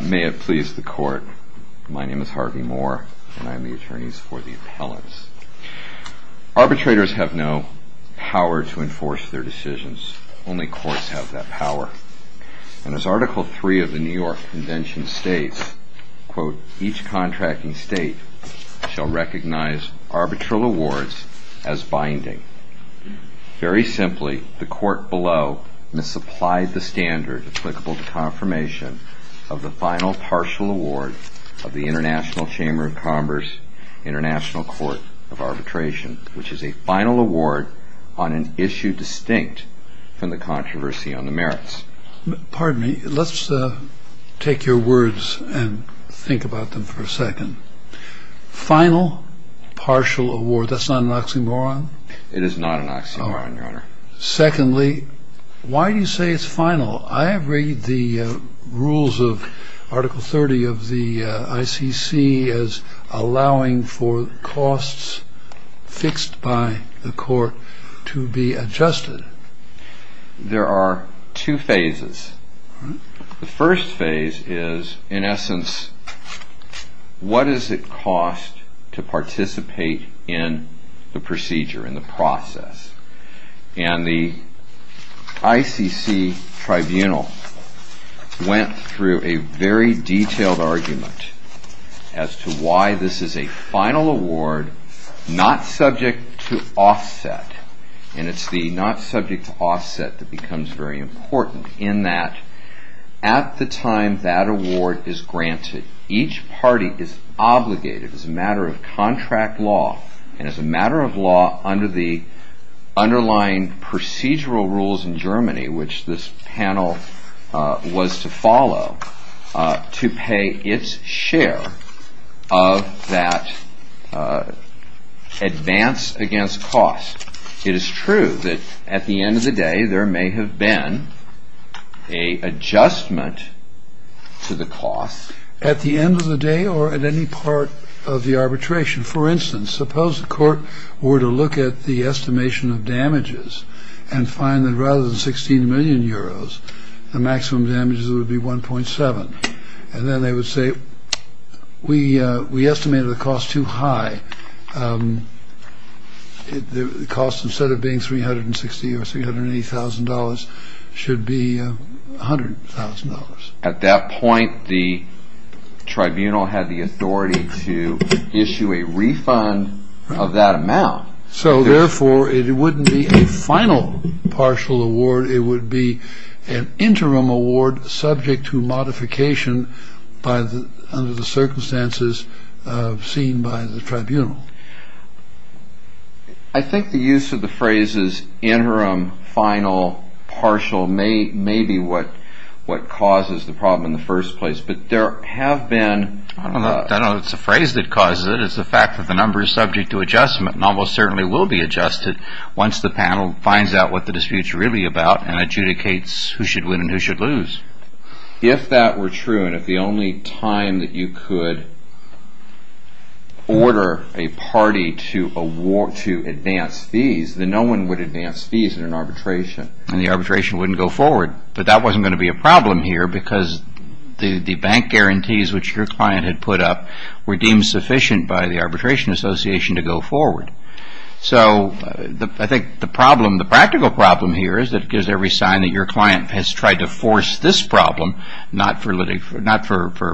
May it please the court, my name is Harvey Moore and I am the attorney for the appellants. Arbitrators have no power to enforce their decisions, only courts have that power. And as Article 3 of the New York Convention states, quote, each contracting state shall recognize arbitral awards as binding. Very simply, the court below misapplied the standard applicable to confirmation of the final partial award of the International Chamber of Commerce, International Court of Arbitration, which is a final award on an issue distinct from the controversy on the merits. Pardon me, let's take your words and think about them for a second. Final partial award, that's not an oxymoron? It is not an oxymoron, Your Honor. Secondly, why do you say it's final? I read the rules of Article 30 of the ICC as allowing for costs fixed by the court to be adjusted. There are two phases. The first phase is, in essence, what does it cost to participate in the procedure, in the process? And the ICC tribunal went through a very detailed argument as to why this is a final award not subject to offset. And it's the not subject to offset that becomes very important in that at the time that award is granted, each party is obligated as a matter of contract law and as a matter of law under the underlying procedural rules in Germany, which this panel was to follow, to pay its share of that advance against cost. It is true that at the end of the day, there may have been a adjustment to the cost. At the end of the day or at any part of the arbitration, for instance, suppose the court were to look at the estimation of damages and find that rather than 16 million euros, the maximum damages would be 1.7. And then they would say, we estimated the cost too high. The cost, instead of being 360 or $380,000, should be $100,000. At that point, the tribunal had the authority to issue a refund of that amount. So therefore, it wouldn't be a final partial award. It would be an interim award subject to modification under the circumstances seen by the tribunal. I think the use of the phrases interim, final, partial may be what causes the problem in the first place. But there have been... I don't know if it's the phrase that causes it. It's the fact that the number is subject to adjustment and almost certainly will be adjusted once the panel finds out what the dispute is really about and adjudicates who should win and who should lose. If that were true and if the only time that you could order a party to advance fees, then no one would advance fees in an arbitration. And the arbitration wouldn't go forward. But that wasn't going to be a problem here because the bank guarantees which your client had put up were deemed sufficient by the arbitration association to go forward. So I think the practical problem here is that it gives every sign that your client has tried to force this problem not for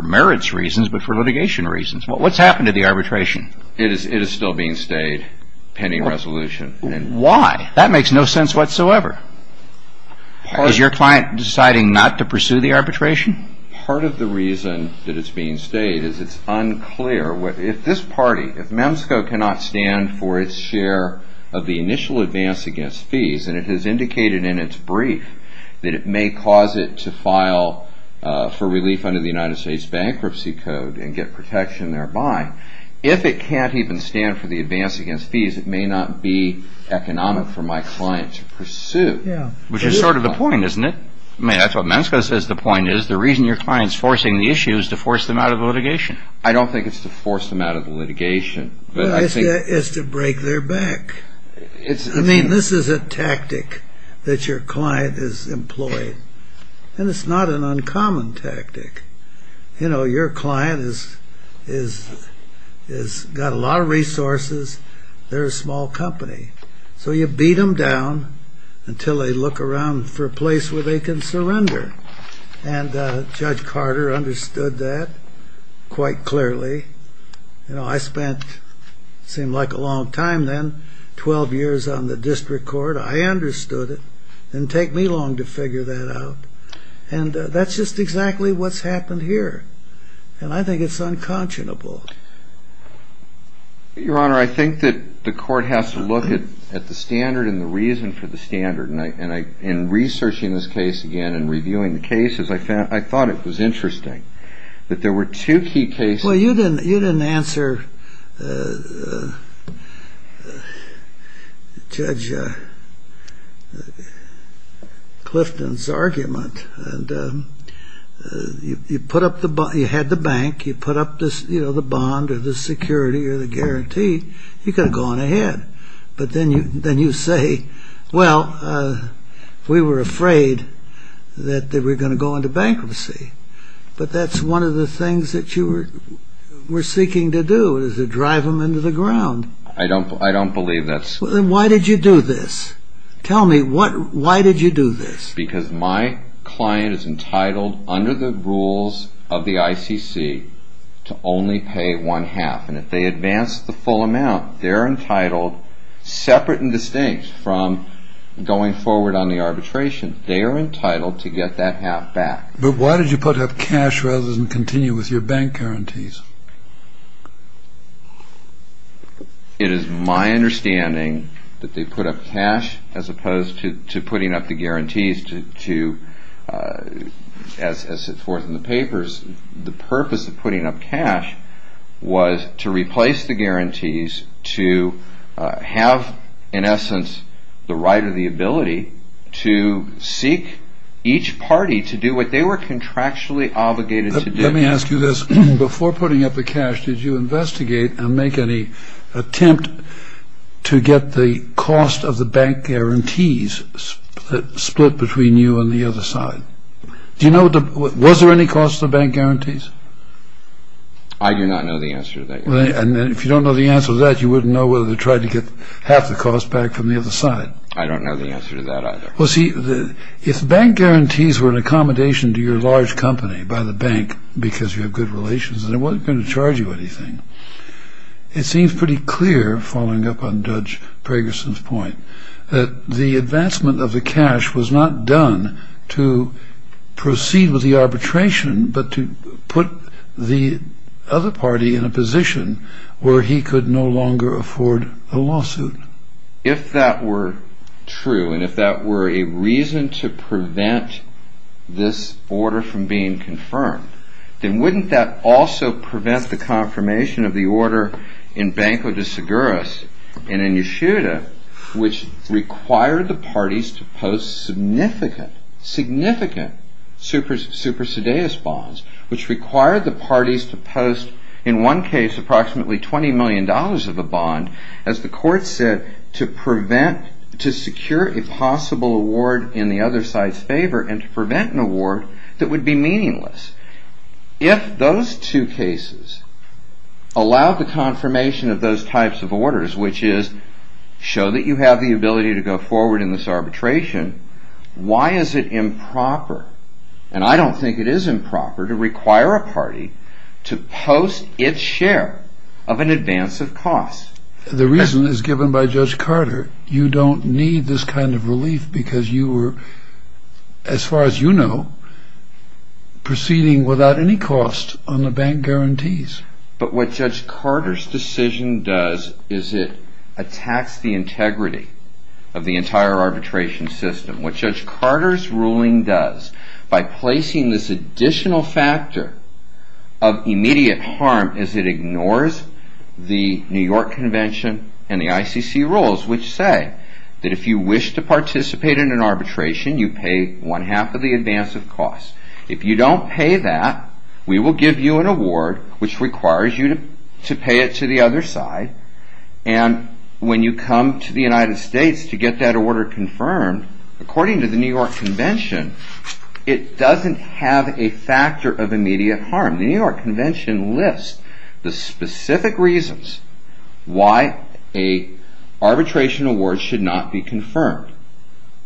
merits reasons but for litigation reasons. What's happened to the arbitration? It is still being stayed pending resolution. Why? That makes no sense whatsoever. Is your client deciding not to pursue the arbitration? Part of the reason that it's being stayed is it's unclear. If this party, if MEMSCO cannot stand for its share of the initial advance against fees and it has indicated in its brief that it may cause it to file for relief under the United States Bankruptcy Code and get protection thereby, if it can't even stand for the advance against fees, it may not be economic for my client to pursue. Which is sort of the point, isn't it? That's what MEMSCO says the point is. The reason your client is forcing the issue is to force them out of litigation. I don't think it's to force them out of litigation. It's to break their back. I mean, this is a tactic that your client has employed. And it's not an uncommon tactic. You know, your client has got a lot of resources. They're a small company. So you beat them down until they look around for a place where they can surrender. And Judge Carter understood that quite clearly. You know, I spent, it seemed like a long time then, 12 years on the district court. I understood it. It didn't take me long to figure that out. And that's just exactly what's happened here. And I think it's unconscionable. Your Honor, I think that the court has to look at the standard and the reason for the standard. And in researching this case again and reviewing the cases, I thought it was interesting that there were two key cases. Well, you didn't answer Judge Clifton's argument. You had the bank. You put up the bond or the security or the guarantee. You could have gone ahead. But then you say, well, we were afraid that they were going to go into bankruptcy. But that's one of the things that you were seeking to do, is to drive them into the ground. I don't believe that's... Then why did you do this? Tell me, why did you do this? Because my client is entitled, under the rules of the ICC, to only pay one half. And if they advance the full amount, they're entitled, separate and distinct from going forward on the arbitration, they are entitled to get that half back. But why did you put up cash rather than continue with your bank guarantees? It is my understanding that they put up cash as opposed to putting up the guarantees to... As it's forth in the papers, the purpose of putting up cash was to replace the guarantees, to have, in essence, the right or the ability to seek each party to do what they were contractually obligated to do. Let me ask you this. Before putting up the cash, did you investigate and make any attempt to get the cost of the bank guarantees split between you and the other side? Do you know... Was there any cost to the bank guarantees? I do not know the answer to that question. And if you don't know the answer to that, you wouldn't know whether they tried to get half the cost back from the other side. I don't know the answer to that either. Well, see, if bank guarantees were an accommodation to your large company, by the bank, because you have good relations, then it wasn't going to charge you anything. It seems pretty clear, following up on Judge Pragerson's point, that the advancement of the cash was not done to proceed with the arbitration, but to put the other party in a position where he could no longer afford a lawsuit. If that were true, and if that were a reason to prevent this order from being confirmed, then wouldn't that also prevent the confirmation of the order in Banco de Seguros and in Yeshuda, which required the parties to post significant, significant super-sedeus bonds, which required the parties to post, in one case, approximately $20 million of a bond, as the court said, to secure a possible award in the other side's favor and to prevent an award that would be meaningless. If those two cases allow the confirmation of those types of orders, which is show that you have the ability to go forward in this arbitration, why is it improper, and I don't think it is improper, to require a party to post its share of an advance of costs? The reason is given by Judge Carter. You don't need this kind of relief because you were, as far as you know, proceeding without any cost on the bank guarantees. But what Judge Carter's decision does is it attacks the integrity of the entire arbitration system. What Judge Carter's ruling does, by placing this additional factor of immediate harm, is it ignores the New York Convention and the ICC rules, which say that if you wish to participate in an arbitration, you pay one-half of the advance of costs. If you don't pay that, we will give you an award, which requires you to pay it to the other side, and when you come to the United States to get that order confirmed, according to the New York Convention, it doesn't have a factor of immediate harm. The New York Convention lists the specific reasons why an arbitration award should not be confirmed.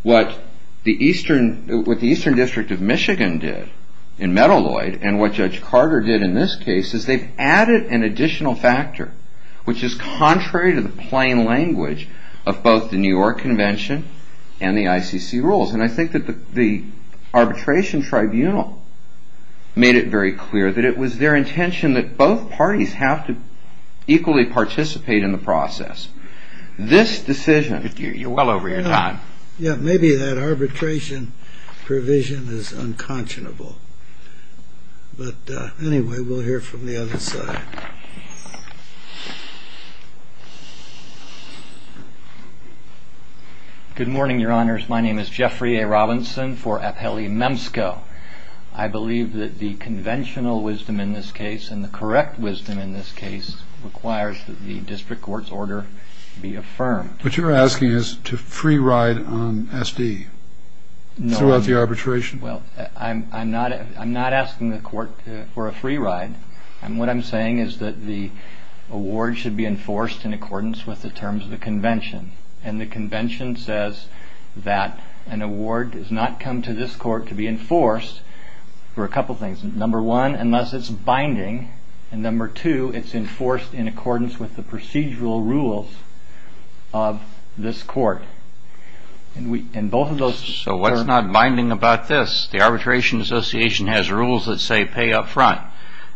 What the Eastern District of Michigan did in Metaloid, and what Judge Carter did in this case, is they've added an additional factor, which is contrary to the plain language of both the New York Convention and the ICC rules. And I think that the arbitration tribunal made it very clear that it was their intention that both parties have to equally participate in the process. This decision... You're well over your time. Yeah, maybe that arbitration provision is unconscionable. But anyway, we'll hear from the other side. Good morning, Your Honors. My name is Jeffrey A. Robinson for Apelli Memsco. I believe that the conventional wisdom in this case and the correct wisdom in this case requires that the district court's order be affirmed. What you're asking is to free ride on SD throughout the arbitration? Well, I'm not asking the court for a free ride. What I'm saying is that the award should be enforced in accordance with the terms of the convention. And the convention says that an award does not come to this court to be enforced for a couple things. Number one, unless it's binding. And number two, it's enforced in accordance with the procedural rules of this court. So what's not binding about this? The arbitration association has rules that say pay up front.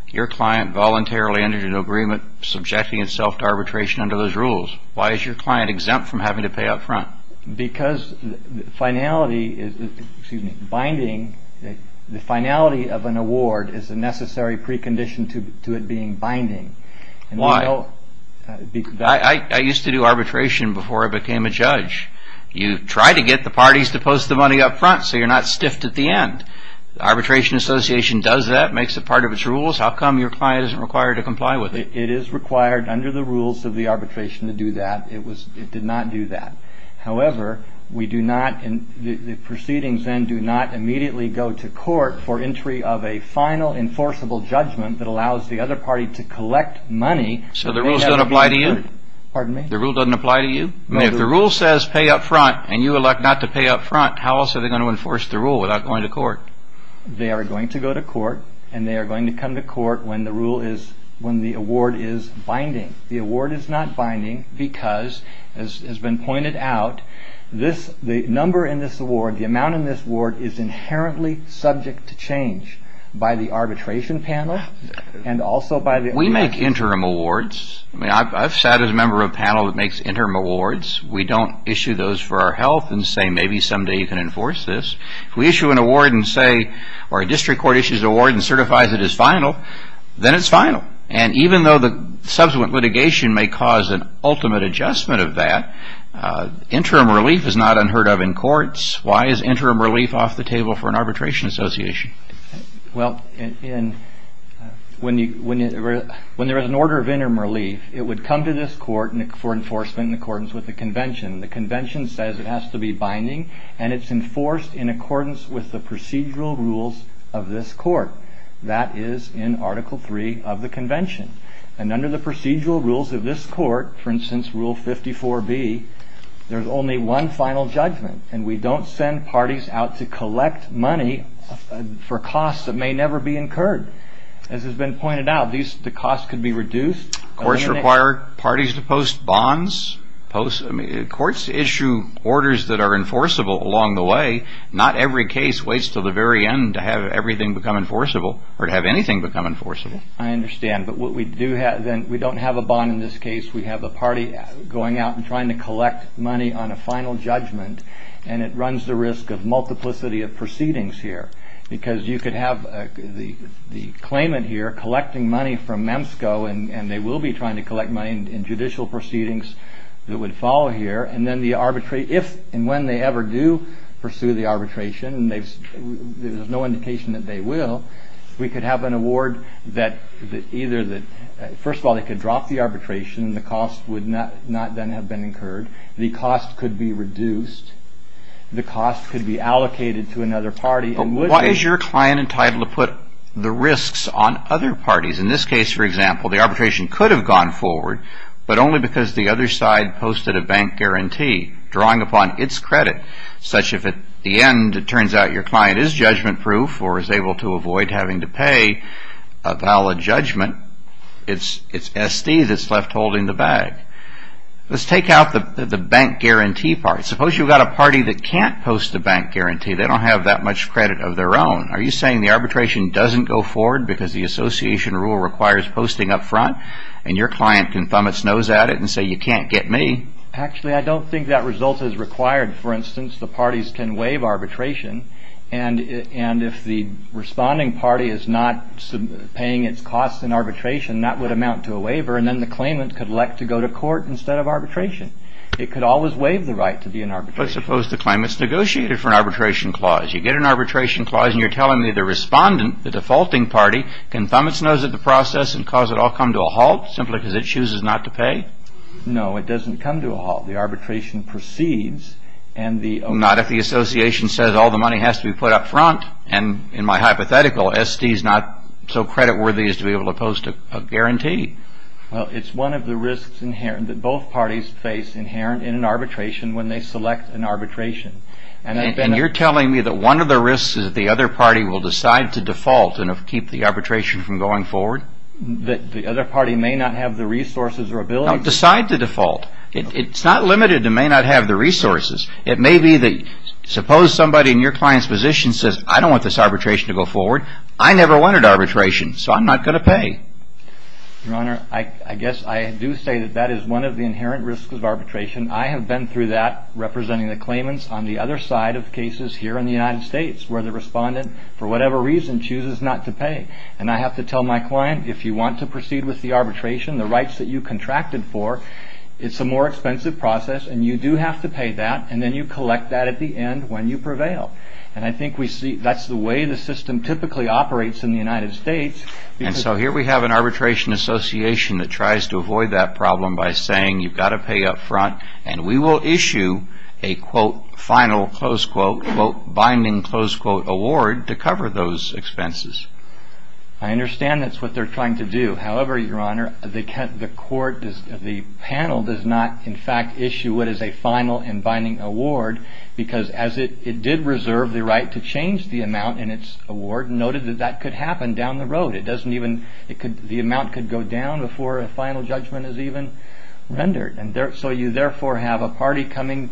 Your client voluntarily entered an agreement subjecting itself to arbitration under those rules. Why is your client exempt from having to pay up front? Because the finality of an award is a necessary precondition to it being binding. Why? You try to get the parties to post the money up front so you're not stiffed at the end. The arbitration association does that, makes it part of its rules. How come your client isn't required to comply with it? It is required under the rules of the arbitration to do that. It did not do that. However, the proceedings then do not immediately go to court for entry of a final enforceable judgment that allows the other party to collect money. So the rules don't apply to you? Pardon me? The rule doesn't apply to you? If the rule says pay up front and you elect not to pay up front, how else are they going to enforce the rule without going to court? They are going to go to court and they are going to come to court when the award is binding. The award is not binding because, as has been pointed out, the number in this award, the amount in this award is inherently subject to change by the arbitration panel and also by the arbitration association. We make interim awards. I've sat as a member of a panel that makes interim awards. We don't issue those for our health and say maybe someday you can enforce this. If we issue an award and say, or a district court issues an award and certifies it as final, then it's final. And even though the subsequent litigation may cause an ultimate adjustment of that, interim relief is not unheard of in courts. Why is interim relief off the table for an arbitration association? When there is an order of interim relief, it would come to this court for enforcement in accordance with the convention. The convention says it has to be binding and it's enforced in accordance with the procedural rules of this court. That is in Article 3 of the convention. And under the procedural rules of this court, for instance, Rule 54B, there's only one final judgment. And we don't send parties out to collect money for costs that may never be incurred. As has been pointed out, the costs could be reduced. Courts require parties to post bonds. Courts issue orders that are enforceable along the way. Not every case waits until the very end to have everything become enforceable or to have anything become enforceable. I understand, but we don't have a bond in this case. We have a party going out and trying to collect money on a final judgment. And it runs the risk of multiplicity of proceedings here. Because you could have the claimant here collecting money from MEMSCO, and they will be trying to collect money in judicial proceedings that would follow here. And when they ever do pursue the arbitration, and there's no indication that they will, we could have an award that either that, first of all, they could drop the arbitration, and the cost would not then have been incurred. The cost could be reduced. The cost could be allocated to another party. But why is your client entitled to put the risks on other parties? In this case, for example, the arbitration could have gone forward, but only because the other side posted a bank guarantee drawing upon its credit, such if at the end it turns out your client is judgment-proof or is able to avoid having to pay a valid judgment, it's SD that's left holding the bag. Let's take out the bank guarantee part. Suppose you've got a party that can't post a bank guarantee. They don't have that much credit of their own. Are you saying the arbitration doesn't go forward because the association rule requires posting up front, and your client can thumb its nose at it and say, you can't get me? Actually, I don't think that result is required. For instance, the parties can waive arbitration, and if the responding party is not paying its costs in arbitration, that would amount to a waiver, and then the claimant could elect to go to court instead of arbitration. It could always waive the right to be in arbitration. But suppose the claimant's negotiated for an arbitration clause. You get an arbitration clause, and you're telling me the respondent, the defaulting party, can thumb its nose at the process and cause it all to come to a halt simply because it chooses not to pay? No, it doesn't come to a halt. The arbitration proceeds, and the... Not if the association says all the money has to be put up front, and in my hypothetical, SD's not so creditworthy as to be able to post a guarantee. Well, it's one of the risks that both parties face inherent in an arbitration when they select an arbitration. And you're telling me that one of the risks is that the other party will decide to default and keep the arbitration from going forward? That the other party may not have the resources or ability... No, decide to default. It's not limited to may not have the resources. It may be that, suppose somebody in your client's position says, I don't want this arbitration to go forward. I never wanted arbitration, so I'm not going to pay. Your Honor, I guess I do say that that is one of the inherent risks of arbitration. I have been through that, representing the claimants on the other side of cases here in the United States where the respondent, for whatever reason, chooses not to pay. And I have to tell my client, if you want to proceed with the arbitration, the rights that you contracted for, it's a more expensive process and you do have to pay that and then you collect that at the end when you prevail. And I think that's the way the system typically operates in the United States. And so here we have an arbitration association that tries to avoid that problem by saying, you've got to pay up front and we will issue a final binding award to cover those expenses. I understand that's what they're trying to do. However, Your Honor, the panel does not, in fact, issue what is a final and binding award because it did reserve the right to change the amount in its award and noted that that could happen down the road. The amount could go down before a final judgment is even rendered. So you therefore have a party coming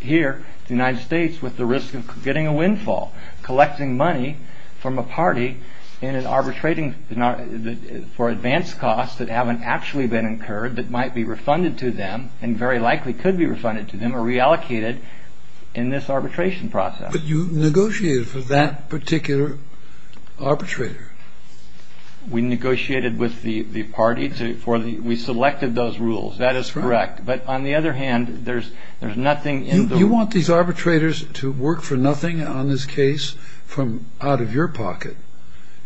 here to the United States with the risk of getting a windfall, collecting money from a party for advanced costs that haven't actually been incurred, that might be refunded to them and very likely could be refunded to them or reallocated in this arbitration process. But you negotiated for that particular arbitrator. We negotiated with the party. We selected those rules. That is correct. But on the other hand, there's nothing in the... You want these arbitrators to work for nothing on this case from out of your pocket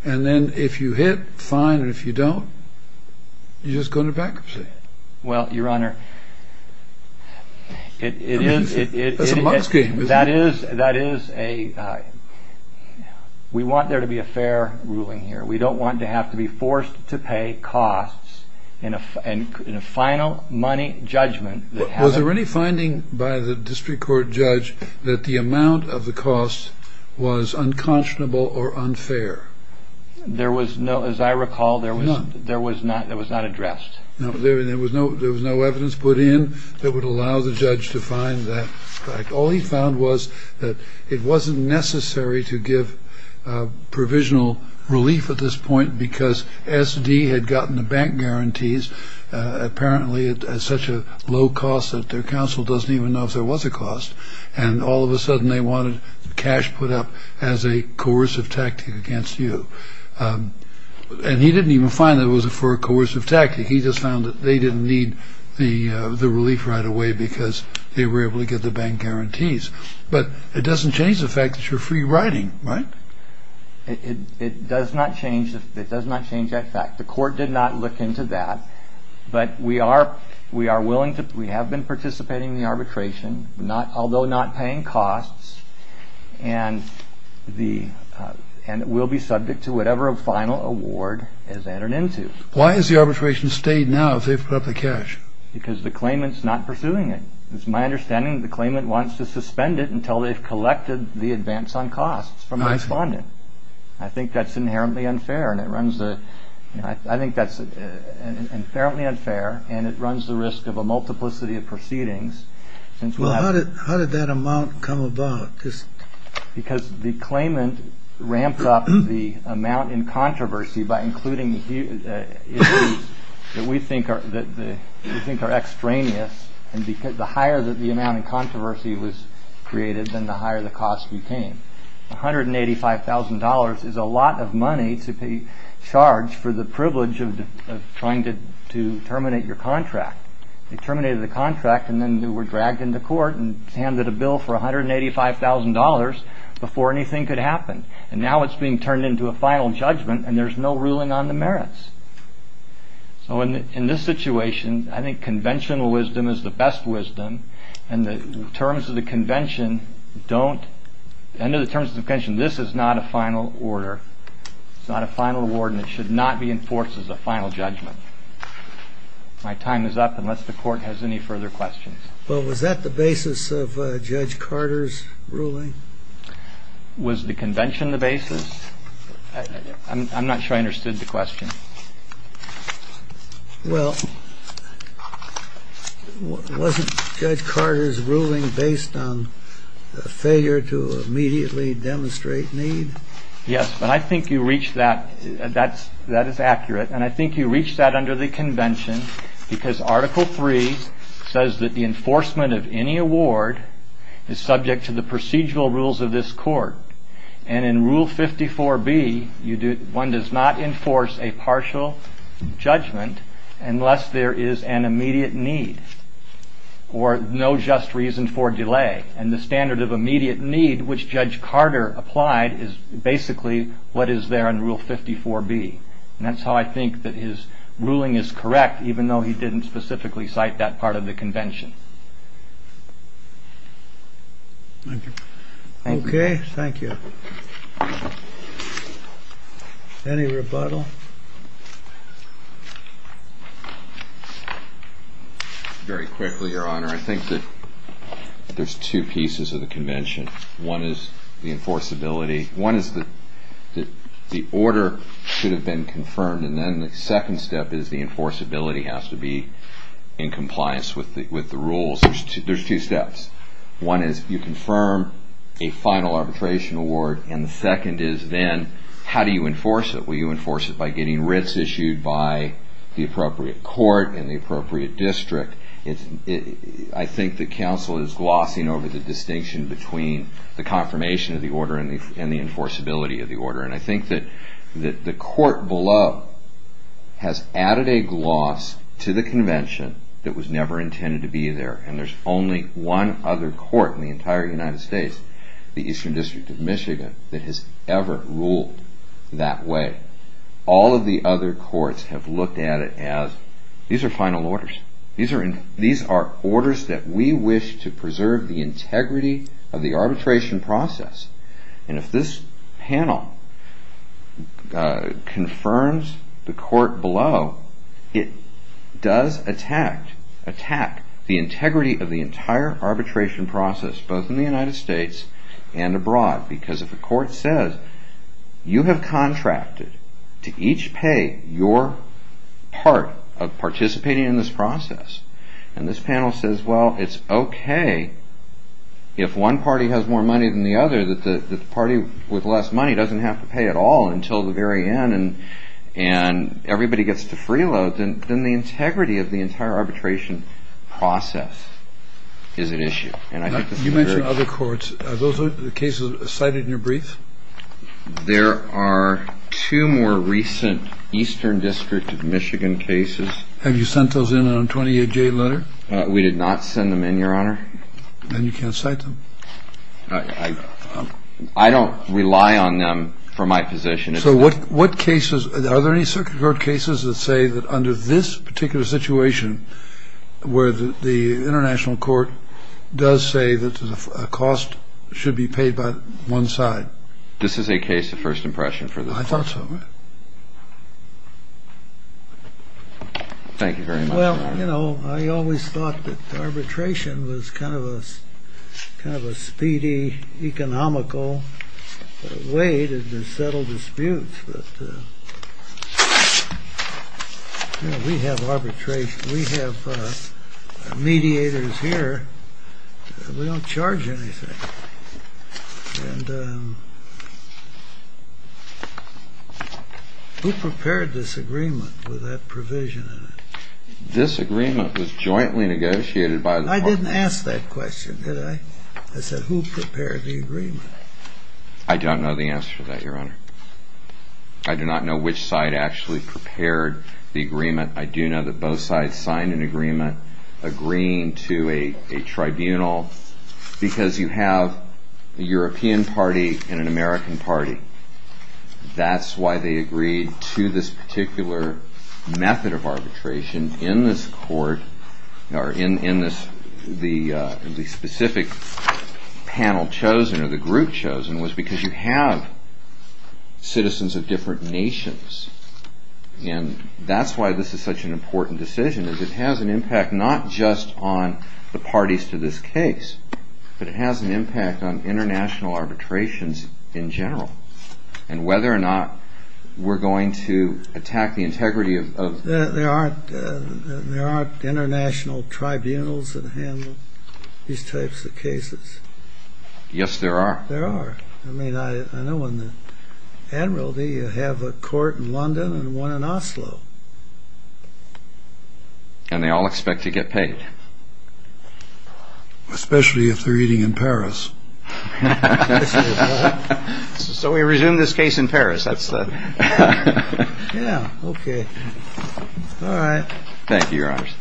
and then if you hit fine and if you don't, you just go into bankruptcy. Well, Your Honor, it is... That's a muck scheme, isn't it? That is a... We want there to be a fair ruling here. We don't want to have to be forced to pay costs in a final money judgment. Was there any finding by the district court judge that the amount of the cost was unconscionable or unfair? There was no... As I recall, there was not addressed. There was no evidence put in that would allow the judge to find that fact. All he found was that it wasn't necessary to give provisional relief at this point because S.D. had gotten the bank guarantees apparently at such a low cost that their counsel doesn't even know if there was a cost and all of a sudden they wanted cash put up as a coercive tactic against you. And he didn't even find that it was for a coercive tactic. He just found that they didn't need the relief right away because they were able to get the bank guarantees. But it doesn't change the fact that you're free-riding, right? It does not change that fact. The court did not look into that, but we have been participating in the arbitration, although not paying costs, and we'll be subject to whatever final award is added into. Why has the arbitration stayed now if they've put up the cash? Because the claimant's not pursuing it. It's my understanding that the claimant wants to suspend it until they've collected the advance on costs from the respondent. I think that's inherently unfair and it runs the risk of a multiplicity of proceedings. How did that amount come about? Because the claimant ramped up the amount in controversy by including issues that we think are extraneous, and the higher the amount in controversy was created, then the higher the cost became. $185,000 is a lot of money to be charged for the privilege of trying to terminate your contract. They terminated the contract and then they were dragged into court and handed a bill for $185,000 before anything could happen. Now it's being turned into a final judgment and there's no ruling on the merits. So in this situation, I think conventional wisdom is the best wisdom and the terms of the convention don't, under the terms of the convention, this is not a final order. It's not a final award and it should not be enforced as a final judgment. My time is up unless the court has any further questions. Well, was that the basis of Judge Carter's ruling? Was the convention the basis? I'm not sure I understood the question. Well, wasn't Judge Carter's ruling based on a failure to immediately demonstrate need? Yes, but I think you reached that. That is accurate and I think you reached that under the convention because Article III says that the enforcement of any award is subject to the procedural rules of this court and in Rule 54B one does not enforce a partial judgment unless there is an immediate need or no just reason for delay and the standard of immediate need which Judge Carter applied is basically what is there in Rule 54B and that's how I think that his ruling is correct even though he didn't specifically cite that part of the convention. Thank you. Okay, thank you. Any rebuttal? Very quickly, Your Honor. I think that there's two pieces of the convention. One is the enforceability. One is that the order should have been confirmed and then the second step is the enforceability has to be in compliance with the rules. There's two steps. One is you confirm a final arbitration award and the second is then how do you enforce it? Will you enforce it by getting writs issued by the appropriate court and the appropriate district? I think the counsel is glossing over the distinction between the confirmation of the order and the enforceability of the order and I think that the court below has added a gloss to the convention that was never intended to be there and there's only one other court in the entire United States, the Eastern District of Michigan, that has ever ruled that way. All of the other courts have looked at it as these are final orders. These are orders that we wish to preserve the integrity of the arbitration process and if this panel confirms the court below, it does attack the integrity of the entire arbitration process both in the United States and abroad because if a court says you have contracted to each pay your part of participating in this process and this panel says well it's okay if one party has more money than the other that the party with less money doesn't have to pay at all until the very end and everybody gets to freeload then the integrity of the entire arbitration process is at issue. You mentioned other courts. Are those cases cited in your brief? There are two more recent Eastern District of Michigan cases. Have you sent those in on a 28-J letter? We did not send them in, Your Honor. Then you can't cite them? I don't rely on them for my position. Are there any circuit court cases that say that under this particular situation where the international court does say that a cost should be paid by one side? This is a case of first impression for the court. I thought so. Thank you very much. I always thought that arbitration was kind of a speedy, economical way to settle disputes. We have mediators here. We don't charge anything. And who prepared this agreement with that provision in it? This agreement was jointly negotiated by the parties. I didn't ask that question, did I? I said, who prepared the agreement? I don't know the answer to that, Your Honor. I do not know which side actually prepared the agreement. I do know that both sides signed an agreement agreeing to a tribunal because you have a European party and an American party. That's why they agreed to this particular method of arbitration in this court, or in the specific panel chosen or the group chosen, was because you have citizens of different nations. And that's why this is such an important decision, because it has an impact not just on the parties to this case, but it has an impact on international arbitrations in general and whether or not we're going to attack the integrity of the court. There aren't international tribunals that handle these types of cases. Yes, there are. There are. I mean, I know in the Admiralty you have a court in London and one in Oslo. And they all expect to get paid. Especially if they're eating in Paris. So we resume this case in Paris. Yeah, okay. All right. Thank you, Your Honors.